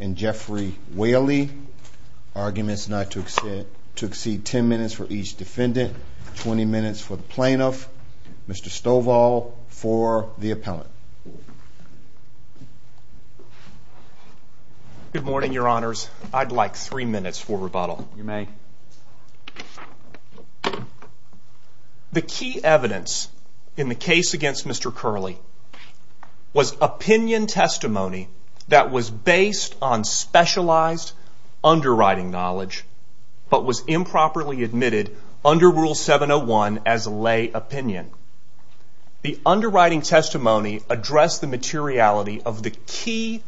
and Jeffrey Whaley. Arguments not to exceed 10 minutes for each defendant, 20 minutes for the plaintiff, Mr. Stovall for the appellant. Good morning, your honors. I'd like three minutes for rebuttal. You may. The key evidence in the case against Mr. Kerley was opinion testimony that was based on specialized underwriting knowledge, but was improperly admitted under Rule 701 as lay opinion. The underwriting testimony addressed the materiality of the key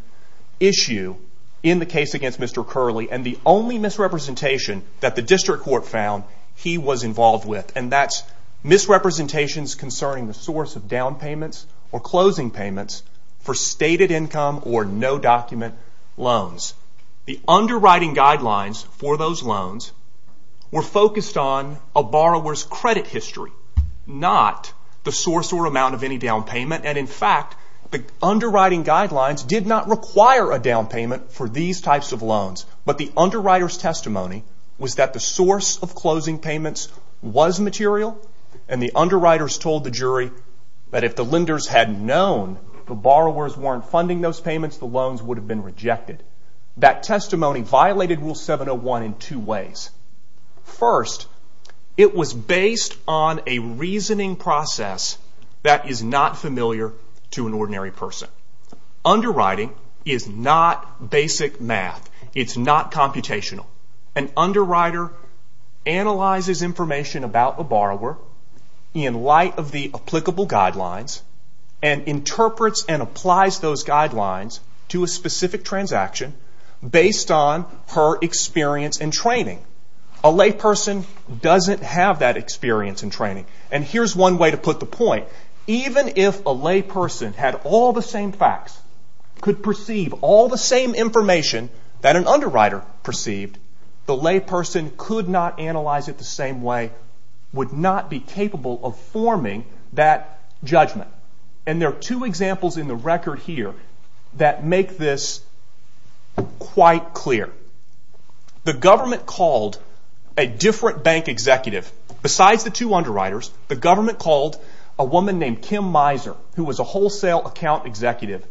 issue in the case against Mr. Kerley and the only misrepresentation that the district court found he was involved with. And that's misrepresentations concerning the source of down payments or closing payments for stated income or no document loans. The underwriting guidelines for those loans were focused on a borrower's credit history, not the source or amount of any down payment. And in fact, the underwriting guidelines did not require a down payment for these types of loans. But the underwriter's testimony was that the source of closing payments was material, and the underwriters told the jury that if the lenders had known the borrowers weren't funding those payments, the loans would have been rejected. That testimony violated Rule 701 in two ways. First, it was based on a reasoning process that is not familiar to an ordinary person. Underwriting is not basic math. It's not computational. An underwriter analyzes information about a borrower in light of the applicable guidelines and interprets and applies those guidelines to a specific transaction based on her experience and training. A layperson doesn't have that experience and training. And here's one way to put the point. Even if a layperson had all the same facts, could perceive all the same information that an underwriter perceived, the layperson could not analyze it the same way, would not be capable of forming that judgment. And there are two examples in the record here that make this quite clear. The government called a different bank executive. Besides the two underwriters, the government called a woman named Kim Miser, who was a wholesale account executive.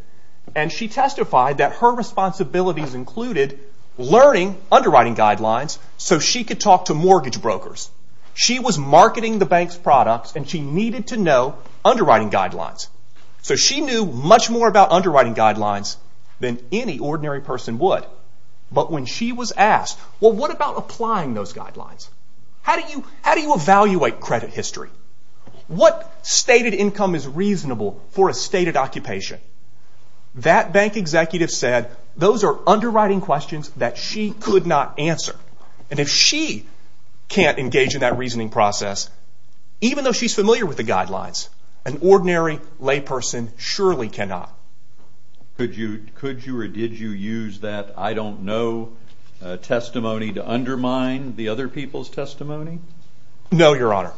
And she testified that her responsibilities included learning underwriting guidelines so she could talk to mortgage brokers. She was marketing the bank's products and she needed to know underwriting guidelines. So she knew much more about underwriting guidelines than any ordinary person would. But when she was asked, well, what about applying those guidelines? How do you evaluate credit history? What stated income is reasonable for a stated occupation? That bank executive said those are underwriting questions that she could not answer. And if she can't engage in that reasoning process, even though she's familiar with the guidelines, an ordinary layperson surely cannot. Could you or did you use that I don't know testimony to undermine the other people's testimony? No, Your Honor.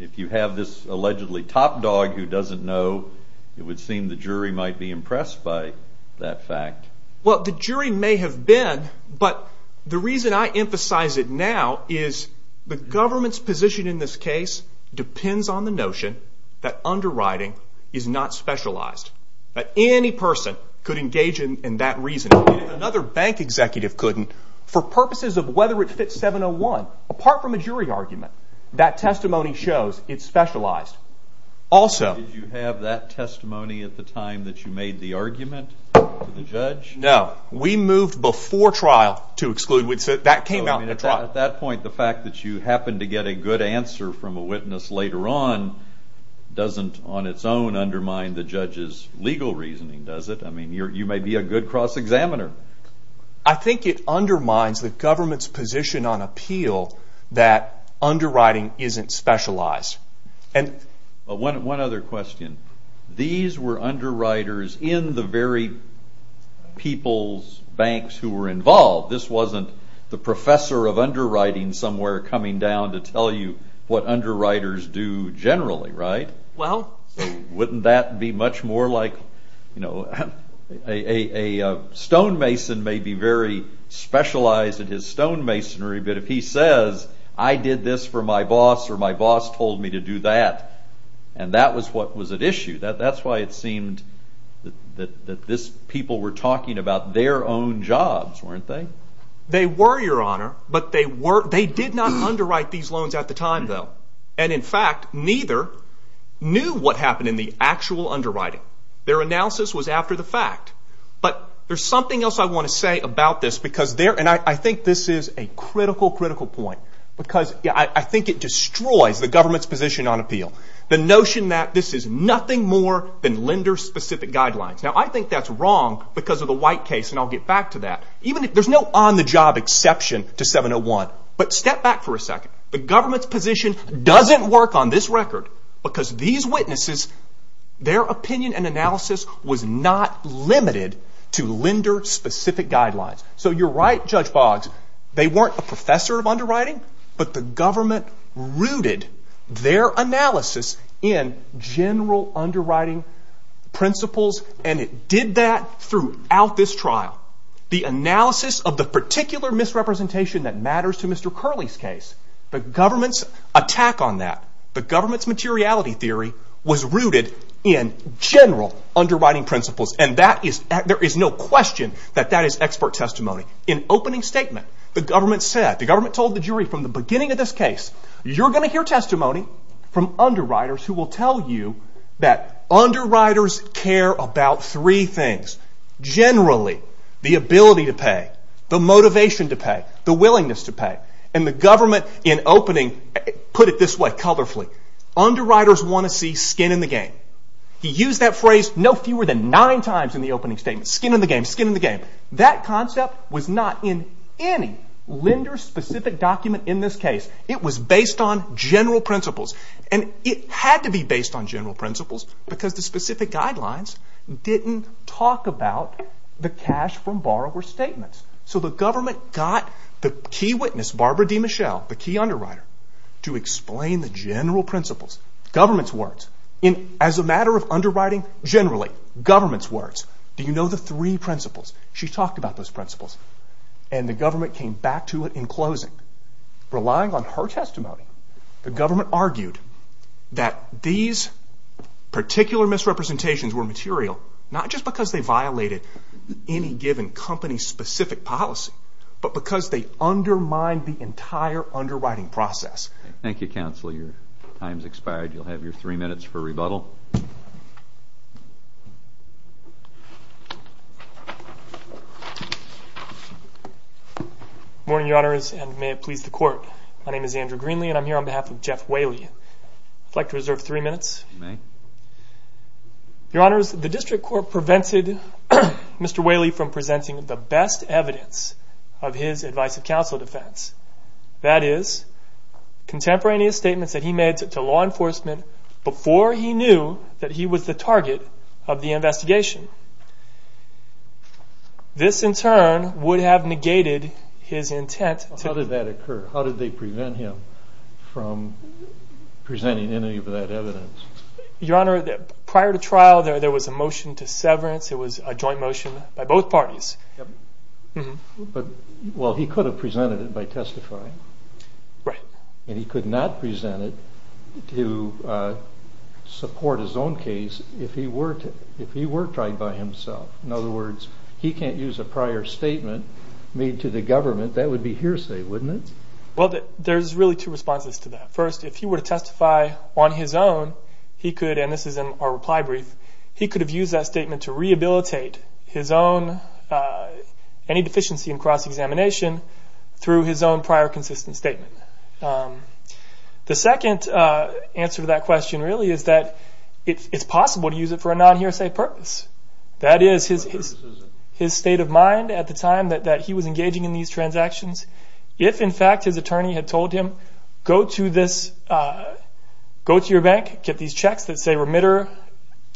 If you have this allegedly top dog who doesn't know, it would seem the jury might be impressed by that fact. Well, the jury may have been, but the reason I emphasize it now is the government's position in this case depends on the notion that underwriting is not specialized, that any person could engage in that reasoning. If another bank executive couldn't, for purposes of whether it fits 701, apart from a jury argument, that testimony shows it's specialized. Did you have that testimony at the time that you made the argument to the judge? No. We moved before trial to exclude. That came out in the trial. At that point, the fact that you happened to get a good answer from a witness later on doesn't on its own undermine the judge's legal reasoning, does it? I mean, you may be a good cross-examiner. I think it undermines the government's position on appeal that underwriting isn't specialized. One other question. These were underwriters in the very people's banks who were involved. This wasn't the professor of underwriting somewhere coming down to tell you what underwriters do generally, right? Wouldn't that be much more like a stonemason may be very specialized in his stonemasonry, but if he says, I did this for my boss or my boss told me to do that, and that was what was at issue. That's why it seemed that these people were talking about their own jobs, weren't they? They were, Your Honor, but they did not underwrite these loans at the time, though. And in fact, neither knew what happened in the actual underwriting. Their analysis was after the fact. But there's something else I want to say about this, and I think this is a critical, critical point, because I think it destroys the government's position on appeal. The notion that this is nothing more than lender-specific guidelines. Now, I think that's wrong because of the White case, and I'll get back to that. There's no on-the-job exception to 701, but step back for a second. The government's position doesn't work on this record because these witnesses, their opinion and analysis was not limited to lender-specific guidelines. So you're right, Judge Boggs, they weren't a professor of underwriting, but the government rooted their analysis in general underwriting principles, and it did that throughout this trial. The analysis of the particular misrepresentation that matters to Mr. Curley's case, the government's attack on that, the government's materiality theory, was rooted in general underwriting principles, and there is no question that that is expert testimony. In opening statement, the government said, the government told the jury, from the beginning of this case, you're going to hear testimony from underwriters who will tell you that underwriters care about three things. Generally, the ability to pay, the motivation to pay, the willingness to pay, and the government, in opening, put it this way, colorfully, underwriters want to see skin in the game. He used that phrase no fewer than nine times in the opening statement, skin in the game, skin in the game. That concept was not in any lender-specific document in this case. It was based on general principles, and it had to be based on general principles because the specific guidelines didn't talk about the cash from borrower statements. So the government got the key witness, Barbara DeMichelle, the key underwriter, to explain the general principles, government's words. As a matter of underwriting, generally, government's words. Do you know the three principles? She talked about those principles, and the government came back to it in closing. Relying on her testimony, the government argued that these particular misrepresentations were material, not just because they violated any given company-specific policy, but because they undermined the entire underwriting process. Thank you, counsel. Your time has expired. You'll have your three minutes for rebuttal. Morning, Your Honors, and may it please the Court. My name is Andrew Greenlee, and I'm here on behalf of Jeff Whaley. I'd like to reserve three minutes. You may. Your Honors, the district court prevented Mr. Whaley from presenting the best evidence of his advice of counsel defense. That is, contemporaneous statements that he made to law enforcement before he knew that he was the target of the investigation. This, in turn, would have negated his intent to... How did that occur? How did they prevent him from presenting any of that evidence? Your Honor, prior to trial, there was a motion to severance. It was a joint motion by both parties. Well, he could have presented it by testifying. Right. And he could not present it to support his own case if he were tried by himself. In other words, he can't use a prior statement made to the government. That would be hearsay, wouldn't it? Well, there's really two responses to that. First, if he were to testify on his own, he could, and this is in our reply brief, he could have used that statement to rehabilitate his own... The second answer to that question really is that it's possible to use it for a non-hearsay purpose. That is, his state of mind at the time that he was engaging in these transactions. If, in fact, his attorney had told him, go to your bank, get these checks that say remitter,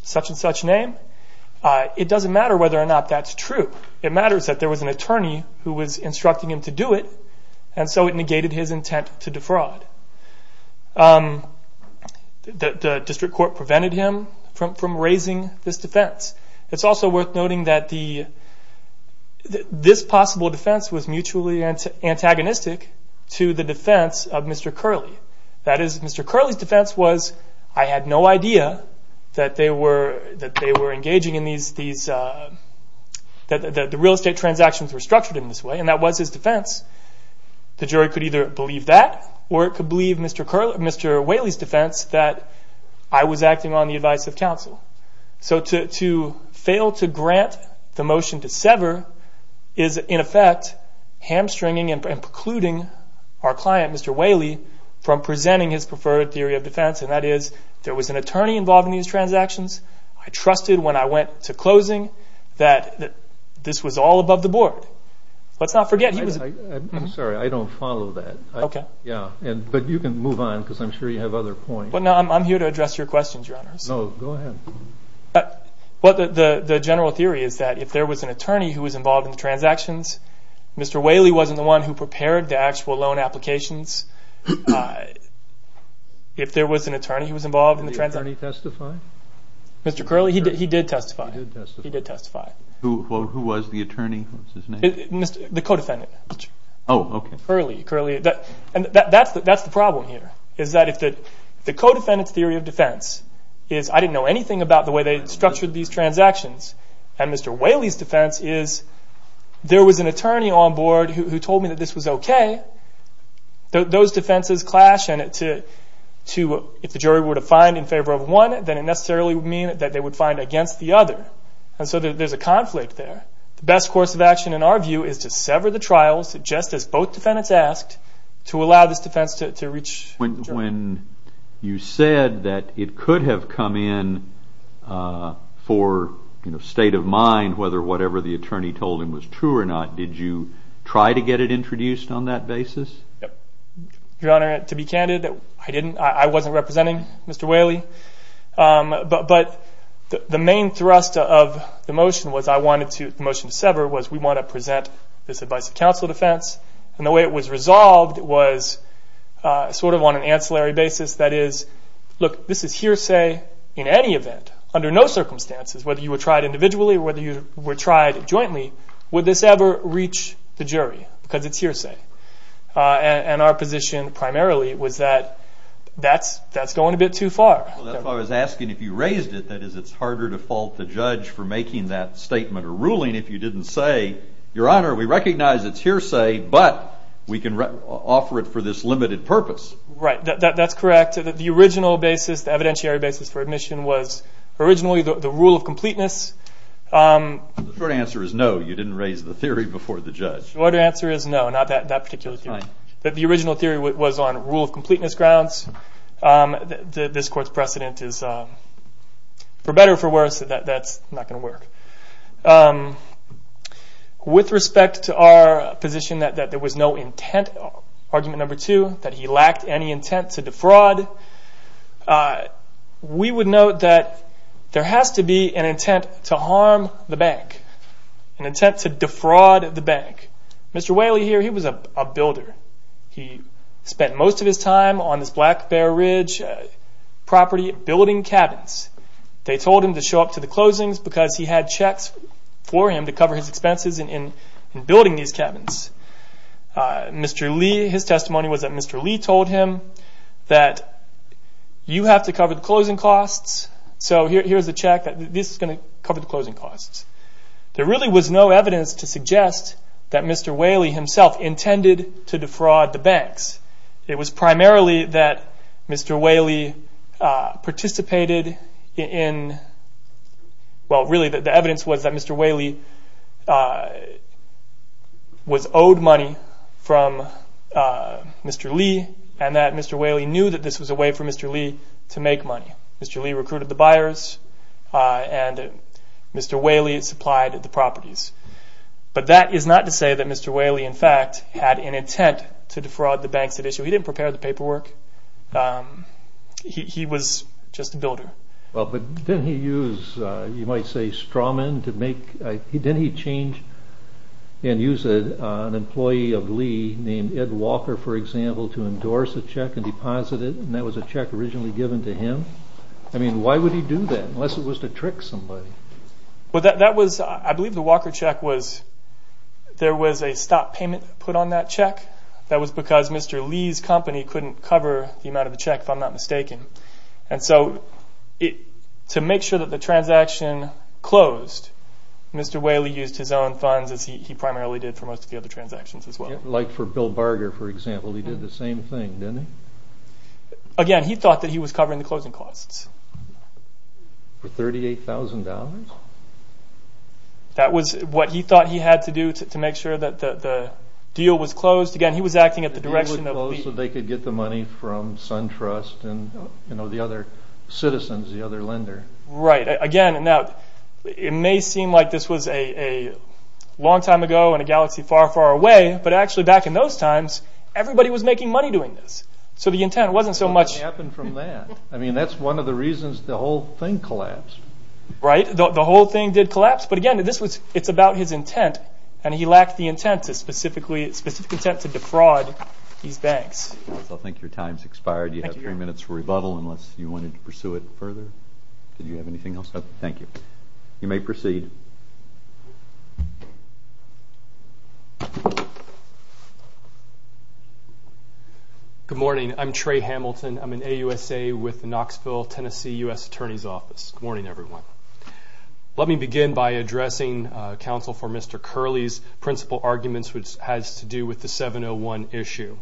such and such name, it doesn't matter whether or not that's true. It matters that there was an attorney who was instructing him to do it, and so it negated his intent to defraud. The district court prevented him from raising this defense. It's also worth noting that this possible defense was mutually antagonistic to the defense of Mr. Curley. That is, Mr. Curley's defense was, I had no idea that they were engaging in these... That the real estate transactions were structured in this way, and that was his defense. The jury could either believe that, or it could believe Mr. Whaley's defense, that I was acting on the advice of counsel. So to fail to grant the motion to sever is, in effect, hamstringing and precluding our client, Mr. Whaley, from presenting his preferred theory of defense, and that is, there was an attorney involved in these transactions. I trusted when I went to closing that this was all above the board. Let's not forget, he was... I'm sorry, I don't follow that. Okay. Yeah, but you can move on, because I'm sure you have other points. Well, no, I'm here to address your questions, Your Honors. No, go ahead. The general theory is that if there was an attorney who was involved in the transactions, Mr. Whaley wasn't the one who prepared the actual loan applications. If there was an attorney who was involved in the transactions... Mr. Curley? He did testify. He did testify. Who was the attorney? The co-defendant. Oh, okay. Curley. And that's the problem here, is that if the co-defendant's theory of defense is, I didn't know anything about the way they structured these transactions, and Mr. Whaley's defense is, there was an attorney on board who told me that this was okay, those defenses clash, and if the jury were to find in favor of one, then it necessarily would mean that they would find against the other, and so there's a conflict there. The best course of action, in our view, is to sever the trials, just as both defendants asked, to allow this defense to reach the jury. When you said that it could have come in for state of mind, whether whatever the attorney told him was true or not, did you try to get it introduced on that basis? Your Honor, to be candid, I didn't. I wasn't representing Mr. Whaley, but the main thrust of the motion to sever was, we want to present this advice of counsel defense, and the way it was resolved was sort of on an ancillary basis, that is, look, this is hearsay in any event, under no circumstances, whether you were tried individually or whether you were tried jointly, would this ever reach the jury, because it's hearsay, and our position primarily was that that's going a bit too far. Well, that's why I was asking if you raised it, that is, it's harder to fault the judge for making that statement or ruling if you didn't say, Your Honor, we recognize it's hearsay, but we can offer it for this limited purpose. Right, that's correct. The original basis, the evidentiary basis for admission, was originally the rule of completeness. The short answer is no, you didn't raise the theory before the judge. The short answer is no, not that particular theory. That's fine. The original theory was on rule of completeness grounds. This Court's precedent is for better or for worse, so that's not going to work. With respect to our position that there was no intent, argument number two, that he lacked any intent to defraud, we would note that there has to be an intent to harm the bank, an intent to defraud the bank. Mr. Whaley here, he was a builder. He spent most of his time on this Black Bear Ridge property building cabins. They told him to show up to the closings because he had checks for him to cover his expenses in building these cabins. Mr. Lee, his testimony was that Mr. Lee told him that you have to cover the closing costs, so here's a check that this is going to cover the closing costs. There really was no evidence to suggest that Mr. Whaley himself intended to defraud the banks. It was primarily that Mr. Whaley participated in, well, really the evidence was that Mr. Whaley was owed money from Mr. Lee and that Mr. Whaley knew that this was a way for Mr. Lee to make money. Mr. Lee recruited the buyers and Mr. Whaley supplied the properties. But that is not to say that Mr. Whaley, in fact, had an intent to defraud the banks at issue. He didn't prepare the paperwork. He was just a builder. Well, but didn't he use, you might say, straw men to make, didn't he change and use an employee of Lee named Ed Walker, for example, to endorse a check and deposit it, and that was a check originally given to him? I mean, why would he do that unless it was to trick somebody? Well, that was, I believe the Walker check was, there was a stop payment put on that check. That was because Mr. Lee's company couldn't cover the amount of the check, if I'm not mistaken. And so to make sure that the transaction closed, Mr. Whaley used his own funds as he primarily did for most of the other transactions as well. Like for Bill Barger, for example, he did the same thing, didn't he? Again, he thought that he was covering the closing costs. For $38,000? That was what he thought he had to do to make sure that the deal was closed. Again, he was acting at the direction of Lee. So they could get the money from SunTrust and the other citizens, the other lender. Right. Again, now, it may seem like this was a long time ago and a galaxy far, far away, but actually back in those times, everybody was making money doing this. So the intent wasn't so much. What happened from that? I mean, that's one of the reasons the whole thing collapsed. Right, the whole thing did collapse, but again, it's about his intent, and he lacked the intent, the specific intent to defraud these banks. I think your time's expired. You have three minutes for rebuttal unless you wanted to pursue it further. Did you have anything else? No, thank you. You may proceed. Good morning. I'm Trey Hamilton. I'm in AUSA with Knoxville, Tennessee, U.S. Attorney's Office. Good morning, everyone. Let me begin by addressing counsel for Mr. Curley's principal arguments, which has to do with the 701 issue.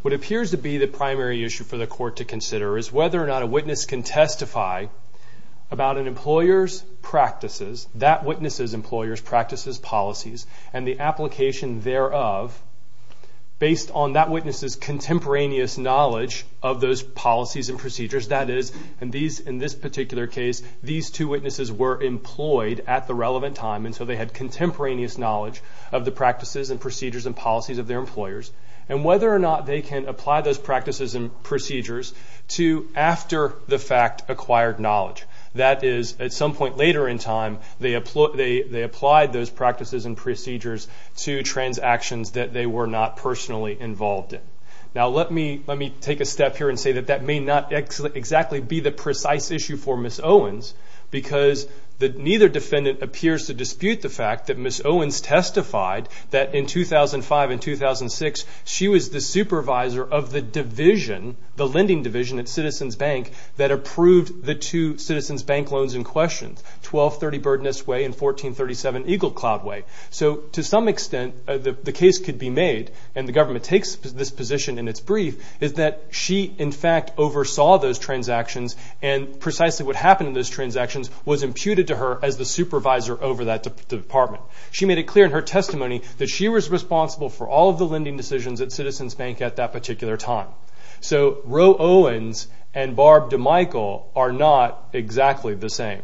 What appears to be the primary issue for the court to consider is whether or not a witness can testify about an employer's practices, that witness's employer's practices, policies, and the application thereof, based on that witness's contemporaneous knowledge of those policies and procedures, that is, in this particular case, these two witnesses were employed at the relevant time, and so they had contemporaneous knowledge of the practices and procedures and policies of their employers, and whether or not they can apply those practices and procedures to after the fact acquired knowledge. That is, at some point later in time, they applied those practices and procedures to transactions that they were not personally involved in. Now, let me take a step here and say that that may not exactly be the precise issue for Ms. Owens because neither defendant appears to dispute the fact that Ms. Owens testified that in 2005 and 2006, she was the supervisor of the division, the lending division at Citizens Bank, that approved the two Citizens Bank loans in question, 1230 Birdness Way and 1437 Eagle Cloud Way. So to some extent, the case could be made, and the government takes this position in its brief, is that she, in fact, oversaw those transactions and precisely what happened to those transactions was imputed to her as the supervisor over that department. She made it clear in her testimony that she was responsible for all of the lending decisions at Citizens Bank at that particular time. So Roe Owens and Barb DeMichael are not exactly the same.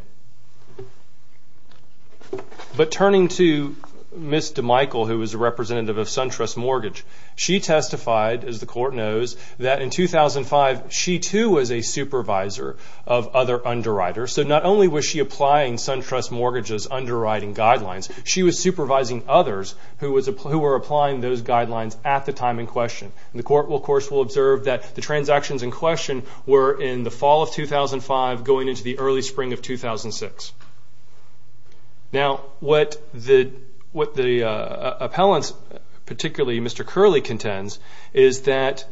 But turning to Ms. DeMichael, who was a representative of SunTrust Mortgage, she testified, as the court knows, that in 2005, she too was a supervisor of other underwriters. So not only was she applying SunTrust Mortgage's underwriting guidelines, she was supervising others who were applying those guidelines at the time in question. The court, of course, will observe that the transactions in question were in the fall of 2005 going into the early spring of 2006. Now, what the appellants, particularly Mr. Curley, contends is that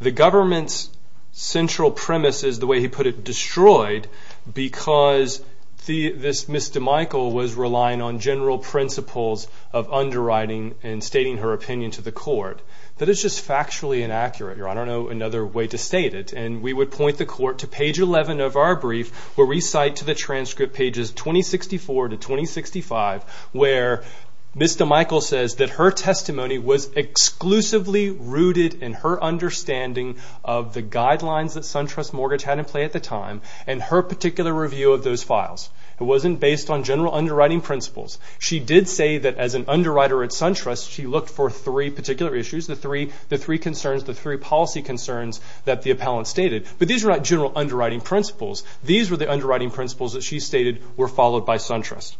the government's central premise is, the way he put it, destroyed because Ms. DeMichael was relying on general principles of underwriting and stating her opinion to the court. That is just factually inaccurate. I don't know another way to state it. And we would point the court to page 11 of our brief where we cite to the transcript pages 2064 to 2065, where Ms. DeMichael says that her testimony was exclusively rooted in her understanding of the guidelines that SunTrust Mortgage had in play at the time and her particular review of those files. It wasn't based on general underwriting principles. She did say that as an underwriter at SunTrust, she looked for three particular issues, the three concerns, the three policy concerns that the appellant stated. But these were not general underwriting principles. These were the underwriting principles that she stated were followed by SunTrust.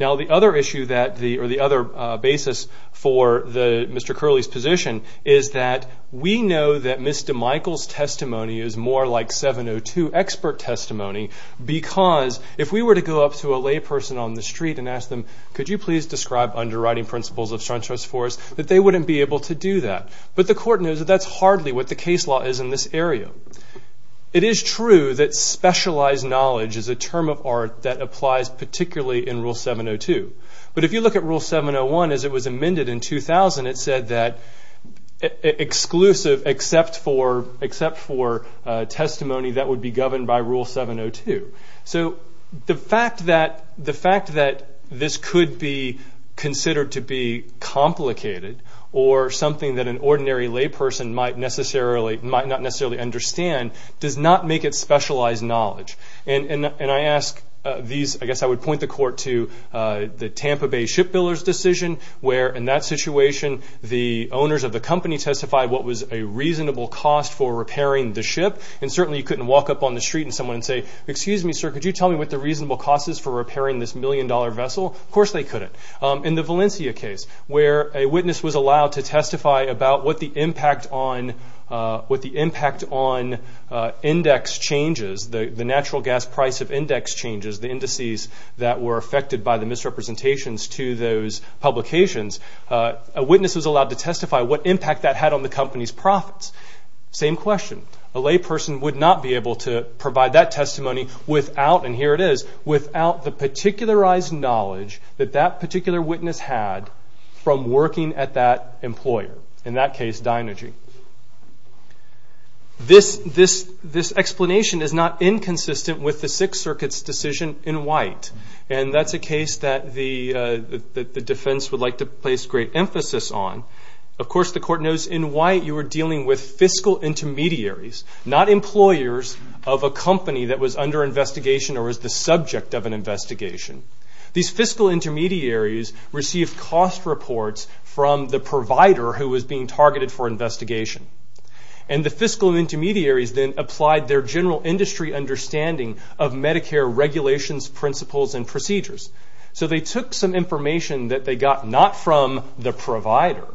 Now, the other issue or the other basis for Mr. Curley's position is that we know that Ms. DeMichael's testimony is more like 702 expert testimony because if we were to go up to a layperson on the street and ask them, could you please describe underwriting principles of SunTrust for us, that they wouldn't be able to do that. But the court knows that that's hardly what the case law is in this area. It is true that specialized knowledge is a term of art that applies particularly in Rule 702. But if you look at Rule 701, as it was amended in 2000, it said that exclusive except for testimony that would be governed by Rule 702. So the fact that this could be considered to be complicated or something that an ordinary layperson might not necessarily understand does not make it specialized knowledge. And I ask these, I guess I would point the court to the Tampa Bay shipbuilder's decision where in that situation the owners of the company testified what was a reasonable cost for repairing the ship. And certainly you couldn't walk up on the street and someone and say, excuse me, sir, could you tell me what the reasonable cost is for repairing this million-dollar vessel? Of course they couldn't. In the Valencia case where a witness was allowed to testify about what the impact on index changes, the natural gas price of index changes, the indices that were affected by the misrepresentations to those publications, a witness was allowed to testify what impact that had on the company's profits. Same question. A layperson would not be able to provide that testimony without, and here it is, without the particularized knowledge that that particular witness had from working at that employer, in that case Dynergy. This explanation is not inconsistent with the Sixth Circuit's decision in White, and that's a case that the defense would like to place great emphasis on. Of course the court knows in White you were dealing with fiscal intermediaries, not employers of a company that was under investigation or was the subject of an investigation. These fiscal intermediaries received cost reports from the provider who was being targeted for investigation, and the fiscal intermediaries then applied their general industry understanding of Medicare regulations, principles, and procedures. So they took some information that they got not from the provider,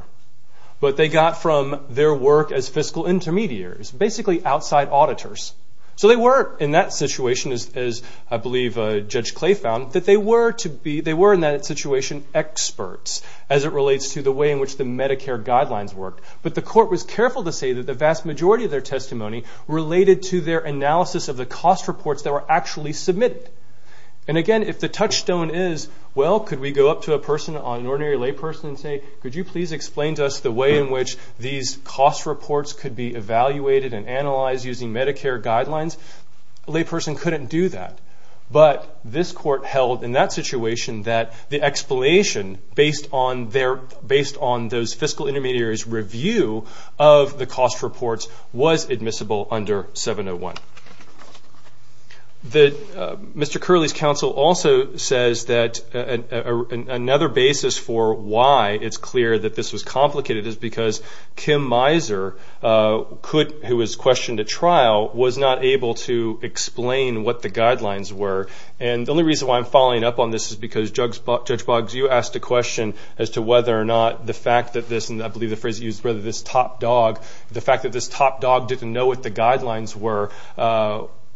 but they got from their work as fiscal intermediaries. Basically outside auditors. So they were in that situation, as I believe Judge Clay found, that they were in that situation experts as it relates to the way in which the Medicare guidelines worked. But the court was careful to say that the vast majority of their testimony related to their analysis of the cost reports that were actually submitted. And again, if the touchstone is, well, could we go up to an ordinary layperson and say, could you please explain to us the way in which these cost reports could be evaluated and analyzed using Medicare guidelines? A layperson couldn't do that. But this court held in that situation that the explanation based on those fiscal intermediaries' review of the cost reports was admissible under 701. Mr. Curley's counsel also says that another basis for why it's clear that this was complicated is because Kim Miser, who was questioned at trial, was not able to explain what the guidelines were. And the only reason why I'm following up on this is because, Judge Boggs, you asked a question as to whether or not the fact that this, and I believe the phrase you used, whether this top dog, the fact that this top dog didn't know what the guidelines were,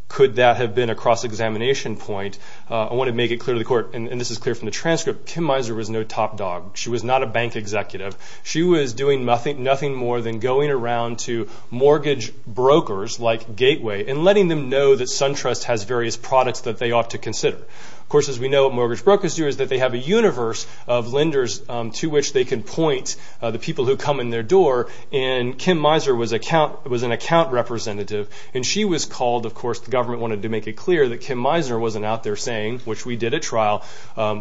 could that have been a cross-examination point? I want to make it clear to the court, and this is clear from the transcript, Kim Miser was no top dog. She was not a bank executive. She was doing nothing more than going around to mortgage brokers like Gateway and letting them know that SunTrust has various products that they ought to consider. Of course, as we know, what mortgage brokers do is that they have a universe of lenders to which they can point the people who come in their door. And Kim Miser was an account representative, and she was called. Of course, the government wanted to make it clear that Kim Miser wasn't out there saying, which we did at trial,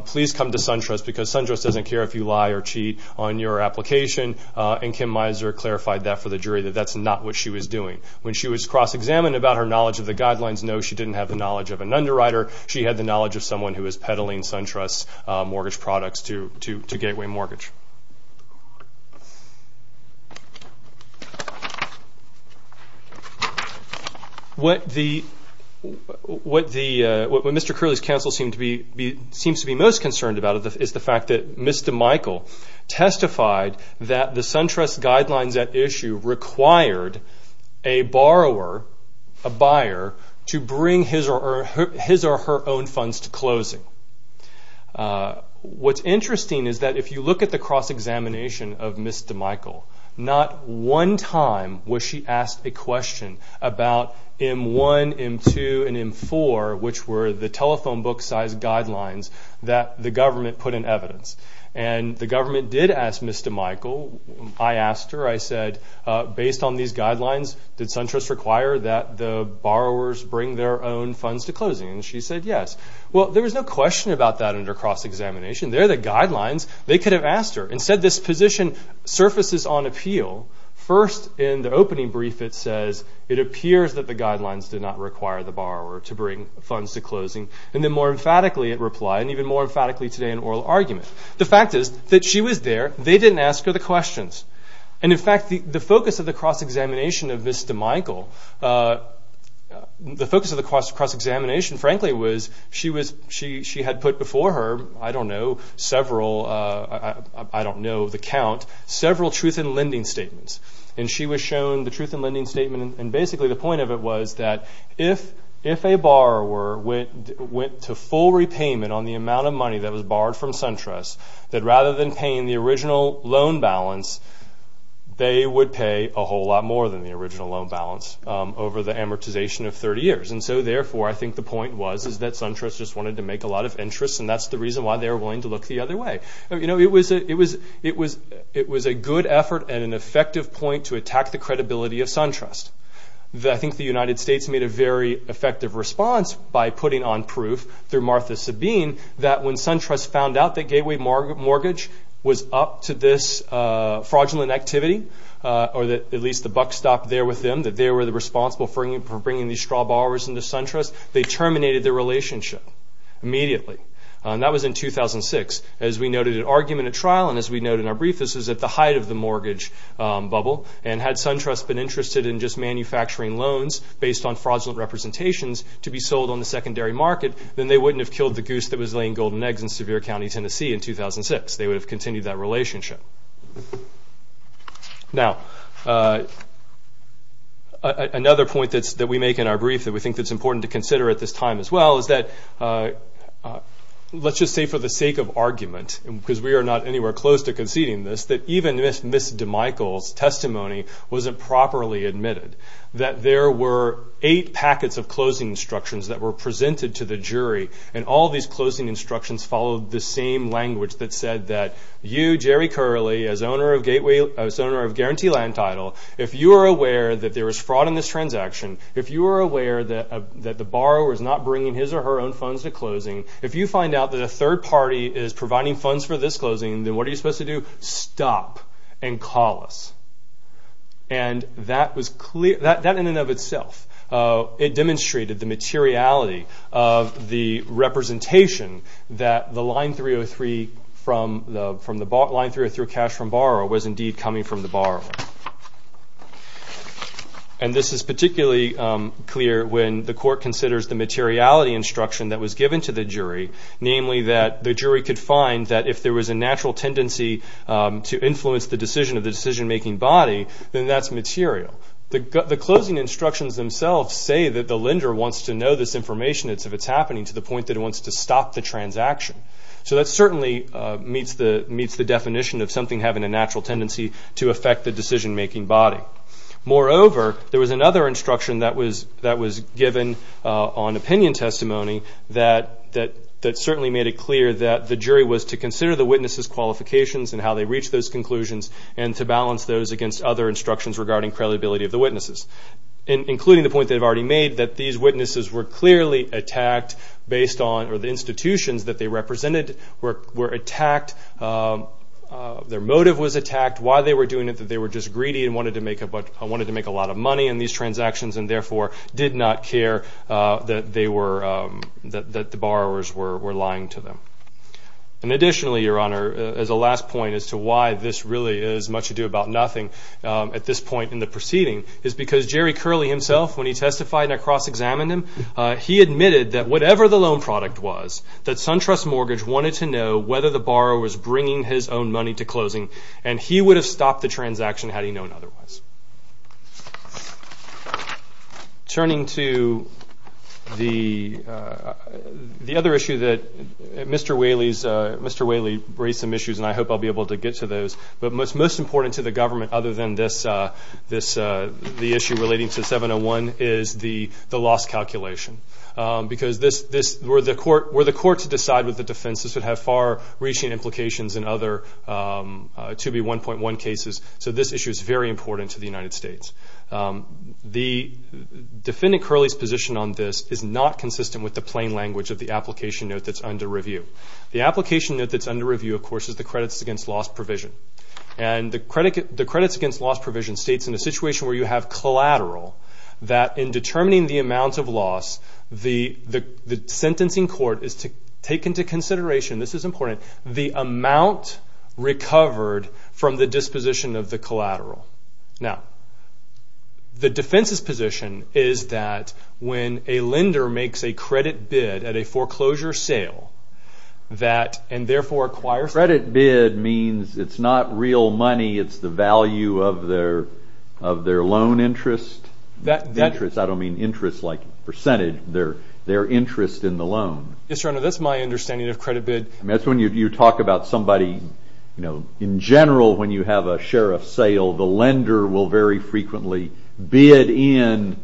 please come to SunTrust because SunTrust doesn't care if you lie or cheat on your application. And Kim Miser clarified that for the jury, that that's not what she was doing. When she was cross-examined about her knowledge of the guidelines, no, she didn't have the knowledge of an underwriter. She had the knowledge of someone who was peddling SunTrust mortgage products to Gateway Mortgage. What Mr. Curley's counsel seems to be most concerned about is the fact that Mr. Michael testified that the SunTrust guidelines at issue required a borrower, a buyer, to bring his or her own funds to closing. What's interesting is that if you look at the cross-examination of Mr. Michael, not one time was she asked a question about M1, M2, and M4, which were the telephone book size guidelines that the government put in evidence. And the government did ask Mr. Michael. I asked her, I said, based on these guidelines, did SunTrust require that the borrowers bring their own funds to closing? And she said, yes. Well, there was no question about that under cross-examination. They're the guidelines. They could have asked her. Instead, this position surfaces on appeal. First, in the opening brief, it says, it appears that the guidelines did not require the borrower to bring funds to closing. And then more emphatically, it replied, and even more emphatically today in oral argument, the fact is that she was there. They didn't ask her the questions. And, in fact, the focus of the cross-examination of Vista Michael, the focus of the cross-examination, frankly, was she had put before her, I don't know, several, I don't know the count, several truth in lending statements. And she was shown the truth in lending statement, and basically the point of it was that if a borrower went to full repayment on the amount of money that was borrowed from SunTrust, that rather than paying the original loan balance, they would pay a whole lot more than the original loan balance over the amortization of 30 years. And so, therefore, I think the point was is that SunTrust just wanted to make a lot of interest, and that's the reason why they were willing to look the other way. You know, it was a good effort and an effective point to attack the credibility of SunTrust. I think the United States made a very effective response by putting on proof through Martha Sabine that when SunTrust found out that Gateway Mortgage was up to this fraudulent activity, or at least the buck stopped there with them, that they were responsible for bringing these straw borrowers into SunTrust, they terminated their relationship immediately. And that was in 2006. As we noted at argument at trial, and as we noted in our brief, this was at the height of the mortgage bubble, and had SunTrust been interested in just manufacturing loans based on fraudulent representations to be sold on the secondary market, then they wouldn't have killed the goose that was laying golden eggs in Sevier County, Tennessee in 2006. They would have continued that relationship. Now, another point that we make in our brief that we think that's important to consider at this time as well is that let's just say for the sake of argument, because we are not anywhere close to conceding this, that even Ms. DeMichel's testimony wasn't properly admitted, that there were eight packets of closing instructions that were presented to the jury, and all these closing instructions followed the same language that said that you, Jerry Curley, as owner of Guarantee Land Title, if you are aware that there was fraud in this transaction, if you are aware that the borrower is not bringing his or her own funds to closing, if you find out that a third party is providing funds for this closing, then what are you supposed to do? Stop and call us. And that in and of itself, it demonstrated the materiality of the representation that the line 303 cash from borrower was indeed coming from the borrower. And this is particularly clear when the court considers the materiality instruction that was given to the jury, namely that the jury could find that if there was a natural tendency to influence the decision of the decision-making body, then that's material. The closing instructions themselves say that the lender wants to know this information, if it's happening, to the point that it wants to stop the transaction. So that certainly meets the definition of something having a natural tendency to affect the decision-making body. Moreover, there was another instruction that was given on opinion testimony that certainly made it clear that the jury was to consider the witnesses' qualifications and how they reached those conclusions and to balance those against other instructions regarding credibility of the witnesses, including the point they've already made that these witnesses were clearly attacked based on the institutions that they represented were attacked, their motive was attacked, why they were doing it, that they were just greedy and wanted to make a lot of money in these transactions and therefore did not care that the borrowers were lying to them. And additionally, Your Honor, as a last point as to why this really is much ado about nothing at this point in the proceeding is because Jerry Curley himself, when he testified and I cross-examined him, he admitted that whatever the loan product was, that SunTrust Mortgage wanted to know whether the borrower was bringing his own money to closing and he would have stopped the transaction had he known otherwise. Turning to the other issue that Mr. Whaley raised some issues and I hope I'll be able to get to those, but most important to the government other than this, the issue relating to 701 is the loss calculation because were the court to decide with the defense, this would have far-reaching implications in other 2B1.1 cases, so this issue is very important to the United States. The defendant Curley's position on this is not consistent with the plain language of the application note that's under review. The application note that's under review, of course, is the credits against loss provision and the credits against loss provision states in a situation where you have collateral that in determining the amount of loss, the sentencing court is to take into consideration, this is important, the amount recovered from the disposition of the collateral. Now, the defense's position is that when a lender makes a credit bid at a foreclosure sale and therefore acquires... Credit bid means it's not real money, it's the value of their loan interest. I don't mean interest like percentage, their interest in the loan. Yes, Your Honor, that's my understanding of credit bid. That's when you talk about somebody... In general, when you have a sheriff sale, the lender will very frequently bid in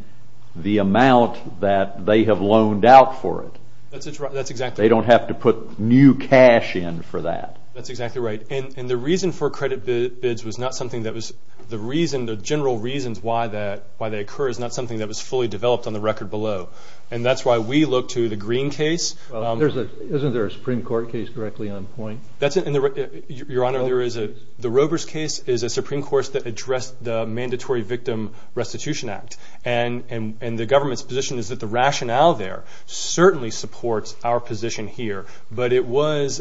the amount that they have loaned out for it. That's exactly right. They don't have to put new cash in for that. That's exactly right. And the reason for credit bids was not something that was... The reason, the general reasons why they occur is not something that was fully developed on the record below. And that's why we look to the Green case... Isn't there a Supreme Court case directly on point? Your Honor, there is a... The Robers case is a Supreme Court that addressed the Mandatory Victim Restitution Act. And the government's position is that the rationale there certainly supports our position here, but it was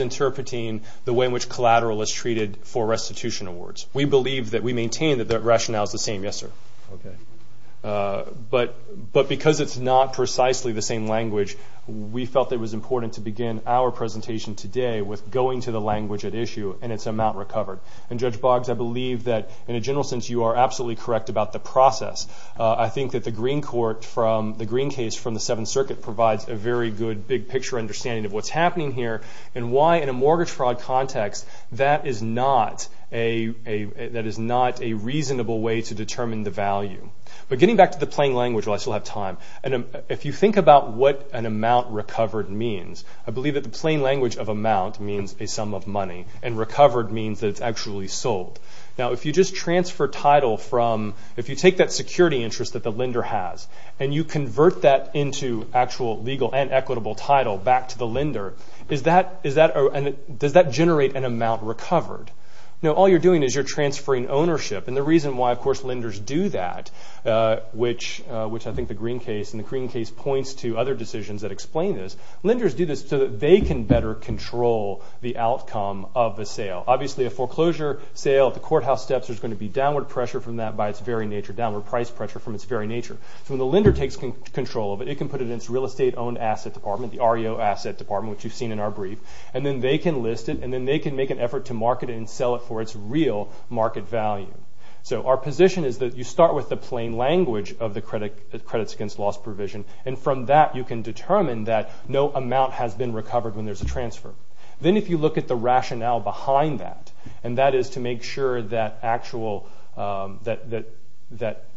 interpreting the way in which collateral is treated for restitution awards. We believe that we maintain that the rationale is the same. Yes, sir. Okay. But because it's not precisely the same language, we felt it was important to begin our presentation today with going to the language at issue and its amount recovered. And Judge Boggs, I believe that, in a general sense, you are absolutely correct about the process. I think that the Green case from the Seventh Circuit provides a very good, big-picture understanding of what's happening here and why, in a mortgage fraud context, that is not a reasonable way to determine the value. But getting back to the plain language, while I still have time, if you think about what an amount recovered means, I believe that the plain language of amount means a sum of money, and recovered means that it's actually sold. Now, if you just transfer title from, if you take that security interest that the lender has and you convert that into actual legal and equitable title back to the lender, does that generate an amount recovered? No, all you're doing is you're transferring ownership. And the reason why, of course, lenders do that, which I think the Green case, and the Green case points to other decisions that explain this, lenders do this so that they can better control the outcome of the sale. Obviously, a foreclosure sale at the courthouse steps, there's going to be downward pressure from that by its very nature, downward price pressure from its very nature. So when the lender takes control of it, it can put it in its real estate-owned asset department, the REO asset department, which you've seen in our brief, and then they can list it, and then they can make an effort to market it and sell it for its real market value. So our position is that you start with the plain language of the Credits Against Loss provision, and from that you can determine that no amount has been recovered when there's a transfer. Then if you look at the rationale behind that, and that is to make sure that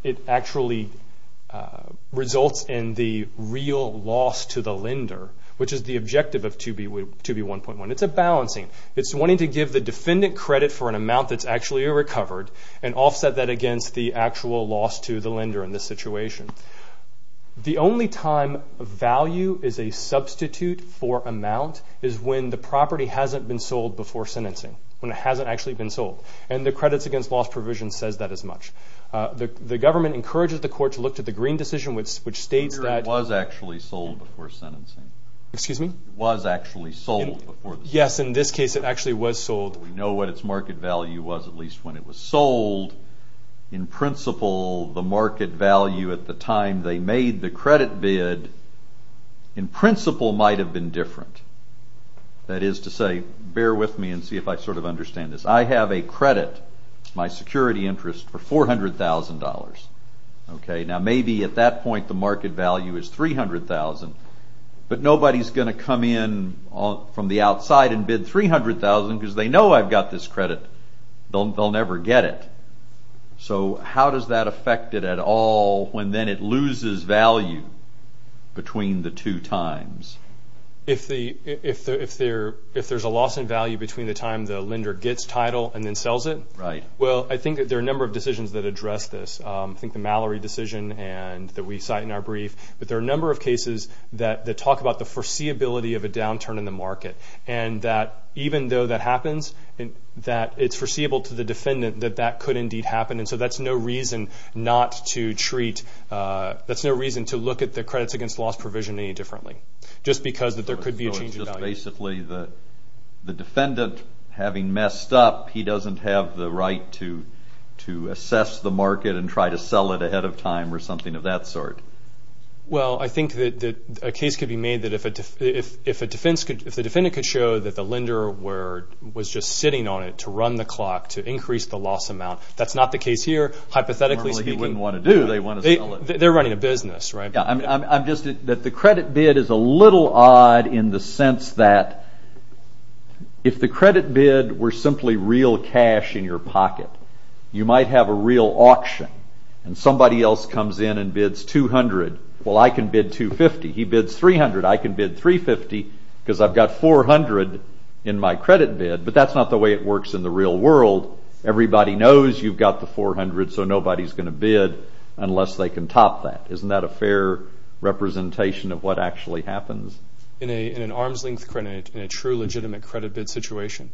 it actually results in the real loss to the lender, which is the objective of 2B1.1. It's a balancing. It's wanting to give the defendant credit for an amount that's actually recovered and offset that against the actual loss to the lender in this situation. The only time value is a substitute for amount is when the property hasn't been sold before sentencing, when it hasn't actually been sold, and the Credits Against Loss provision says that as much. The government encourages the court to look to the Green decision, which states that... It was actually sold before sentencing. Excuse me? It was actually sold before the sentencing. Yes, in this case it actually was sold. We know what its market value was, at least when it was sold. In principle, the market value at the time they made the credit bid, in principle, might have been different. That is to say, bear with me and see if I sort of understand this. I have a credit, my security interest, for $400,000. Now maybe at that point the market value is $300,000, but nobody's going to come in from the outside and bid $300,000 because they know I've got this credit. They'll never get it. So how does that affect it at all when then it loses value between the two times? If there's a loss in value between the time the lender gets title and then sells it? Right. Well, I think that there are a number of decisions that address this. I think the Mallory decision that we cite in our brief. But there are a number of cases that talk about the foreseeability of a downturn in the market and that even though that happens, that it's foreseeable to the defendant that that could indeed happen. And so that's no reason to look at the credits against loss provision any differently just because there could be a change in value. So it's just basically the defendant having messed up, he doesn't have the right to assess the market and try to sell it ahead of time or something of that sort. Well, I think that a case could be made that if the defendant could show that the lender was just sitting on it to run the clock to increase the loss amount, that's not the case here hypothetically speaking. Normally he wouldn't want to do it. They want to sell it. They're running a business, right? Yeah. I'm just that the credit bid is a little odd in the sense that if the credit bid were simply real cash in your pocket, you might have a real auction and somebody else comes in and bids $200. Well, I can bid $250. He bids $300. I can bid $350 because I've got $400 in my credit bid, but that's not the way it works in the real world. Everybody knows you've got the $400, so nobody's going to bid unless they can top that. Isn't that a fair representation of what actually happens? In an arm's length credit, in a true legitimate credit bid situation,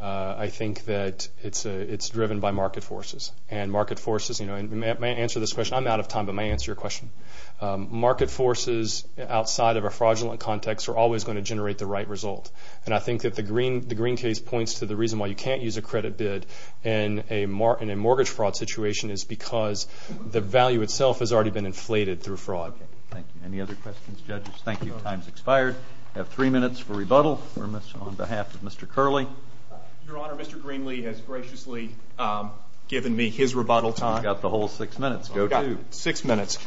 I think that it's driven by market forces. And market forces, you know, and may I answer this question? I'm out of time, but may I answer your question? Market forces outside of a fraudulent context are always going to generate the right result. And I think that the Green case points to the reason why you can't use a credit bid in a mortgage fraud situation is because the value itself has already been inflated through fraud. Okay, thank you. Any other questions, judges? Thank you. Time's expired. We have three minutes for rebuttal. We're on behalf of Mr. Curley. Your Honor, Mr. Greenlee has graciously given me his rebuttal time. You've got the whole six minutes. Go to. Six minutes.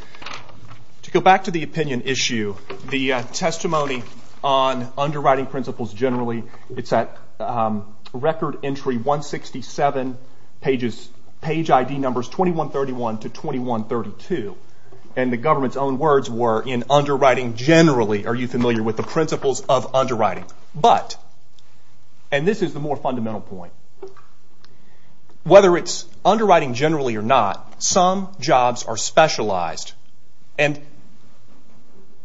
To go back to the opinion issue, the testimony on underwriting principles generally, it's at record entry 167, page ID numbers 2131 to 2132. And the government's own words were in underwriting generally, are you familiar with the principles of underwriting? But, and this is the more fundamental point, whether it's underwriting generally or not, some jobs are specialized. And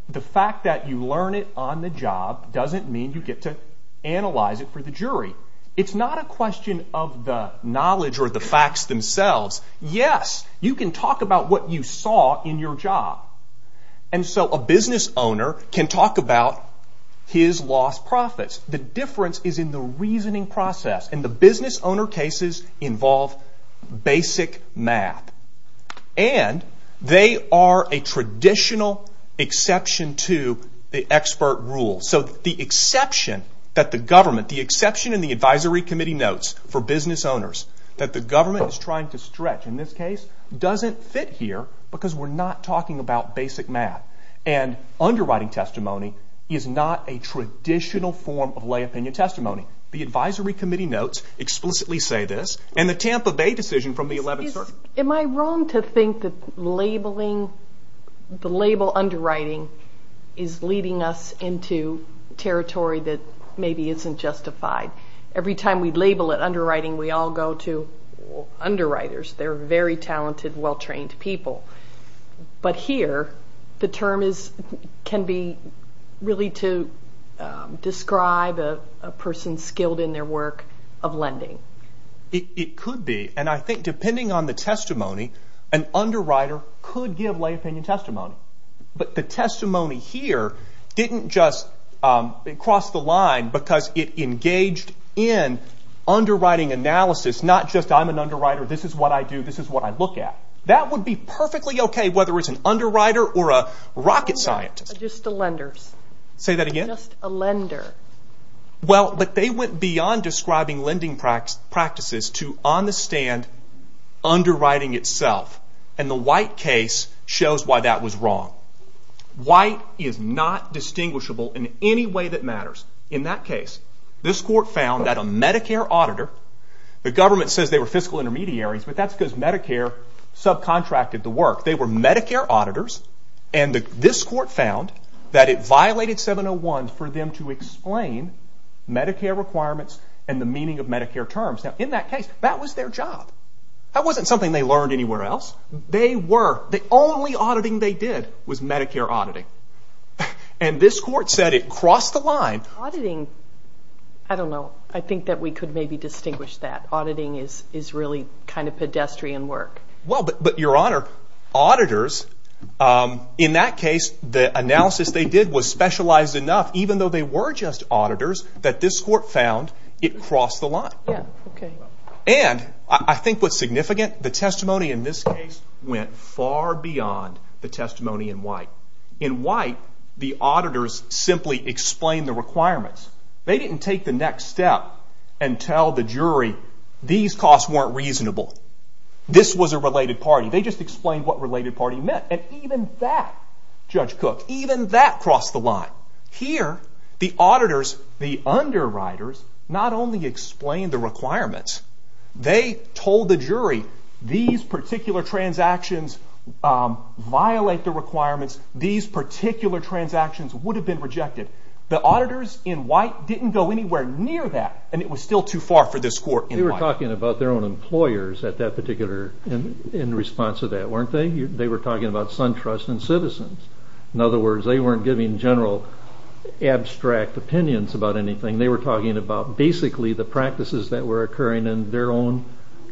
the fact that you learn it on the job doesn't mean you get to analyze it for the jury. It's not a question of the knowledge or the facts themselves. Yes, you can talk about what you saw in your job. And so a business owner can talk about his lost profits. The difference is in the reasoning process. And the business owner cases involve basic math. And they are a traditional exception to the expert rule. So the exception that the government, the exception in the advisory committee notes for business owners that the government is trying to stretch, in this case, doesn't fit here because we're not talking about basic math. And underwriting testimony is not a traditional form of lay opinion testimony. The advisory committee notes explicitly say this. And the Tampa Bay decision from the 11th Circuit. Am I wrong to think that labeling, the label underwriting is leading us into territory that maybe isn't justified? Every time we label it underwriting, we all go to underwriters. They're very talented, well-trained people. But here, the term can be really to describe a person skilled in their work of lending. It could be. And I think depending on the testimony, an underwriter could give lay opinion testimony. But the testimony here didn't just cross the line because it engaged in underwriting analysis, not just I'm an underwriter, this is what I do, this is what I look at. That would be perfectly okay, whether it's an underwriter or a rocket scientist. Just the lenders. Say that again? Just a lender. Well, but they went beyond describing lending practices to understand underwriting itself. And the White case shows why that was wrong. White is not distinguishable in any way that matters. In that case, this court found that a Medicare auditor, the government says they were fiscal intermediaries, but that's because Medicare subcontracted the work. They were Medicare auditors, and this court found that it violated 701 for them to explain Medicare requirements and the meaning of Medicare terms. Now, in that case, that was their job. That wasn't something they learned anywhere else. They were. The only auditing they did was Medicare auditing. And this court said it crossed the line. Auditing, I don't know. I think that we could maybe distinguish that. Auditing is really kind of pedestrian work. Well, but Your Honor, auditors, in that case, the analysis they did was specialized enough, even though they were just auditors, that this court found it crossed the line. And I think what's significant, the testimony in this case went far beyond the testimony in White. In White, the auditors simply explained the requirements. They didn't take the next step and tell the jury, these costs weren't reasonable. This was a related party. They just explained what related party meant. And even that, Judge Cook, even that crossed the line. Here, the auditors, the underwriters, not only explained the requirements, they told the jury, these particular transactions violate the requirements. These particular transactions would have been rejected. The auditors in White didn't go anywhere near that, and it was still too far for this court in White. They were talking about their own employers in response to that, weren't they? They were talking about SunTrust and Citizens. In other words, they weren't giving general abstract opinions about anything. They were talking about basically the practices that were occurring in their own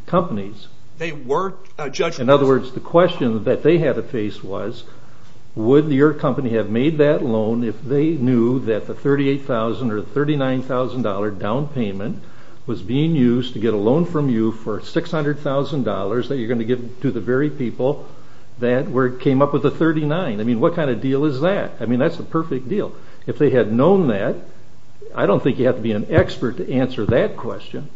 companies. In other words, the question that they had to face was, would your company have made that loan if they knew that the $38,000 or $39,000 down payment was being used to get a loan from you for $600,000 that you're going to give to the very people that came up with the $39,000? What kind of deal is that? That's a perfect deal. If they had known that, I don't think you'd have to be an expert to answer that question.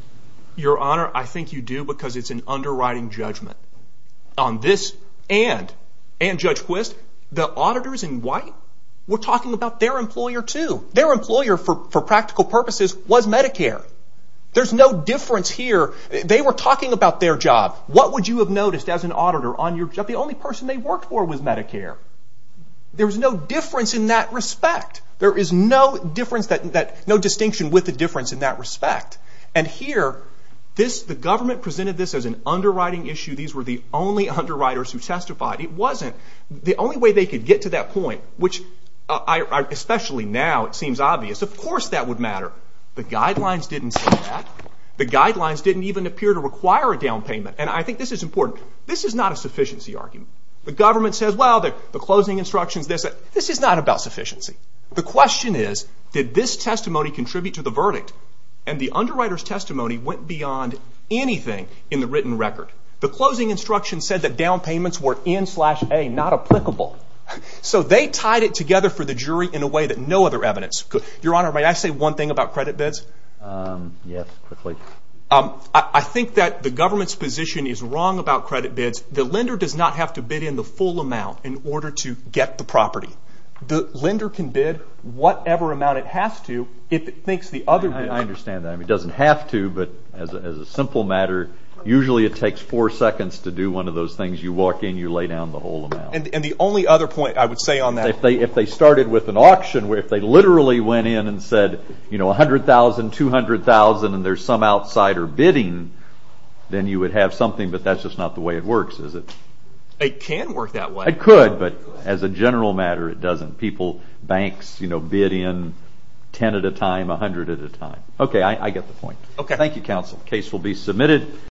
Your Honor, I think you do because it's an underwriting judgment. On this and Judge Quist, the auditors in White were talking about their employer too. Their employer, for practical purposes, was Medicare. There's no difference here. They were talking about their job. What would you have noticed as an auditor? The only person they worked for was Medicare. There's no difference in that respect. There is no distinction with a difference in that respect. Here, the government presented this as an underwriting issue. These were the only underwriters who testified. It wasn't. The only way they could get to that point, which especially now it seems obvious, of course that would matter. The guidelines didn't say that. The guidelines didn't even appear to require a down payment. I think this is important. This is not a sufficiency argument. The government says, well, the closing instruction is this. This is not about sufficiency. The question is, did this testimony contribute to the verdict? The underwriter's testimony went beyond anything in the written record. The closing instruction said that down payments were N-slash-A, not applicable. They tied it together for the jury in a way that no other evidence could. Your Honor, may I say one thing about credit bids? Yes, quickly. I think that the government's position is wrong about credit bids. The lender does not have to bid in the full amount in order to get the property. The lender can bid whatever amount it has to if it thinks the other way. I understand that. It doesn't have to, but as a simple matter, usually it takes four seconds to do one of those things. You walk in. You lay down the whole amount. The only other point I would say on that. If they started with an auction, where if they literally went in and said, you know, $100,000, $200,000, and there's some outsider bidding, then you would have something, but that's just not the way it works, is it? It can work that way. It could, but as a general matter, it doesn't. People, banks, you know, bid in 10 at a time, 100 at a time. Okay, I get the point. Okay. Thank you, Counsel. The case will be submitted.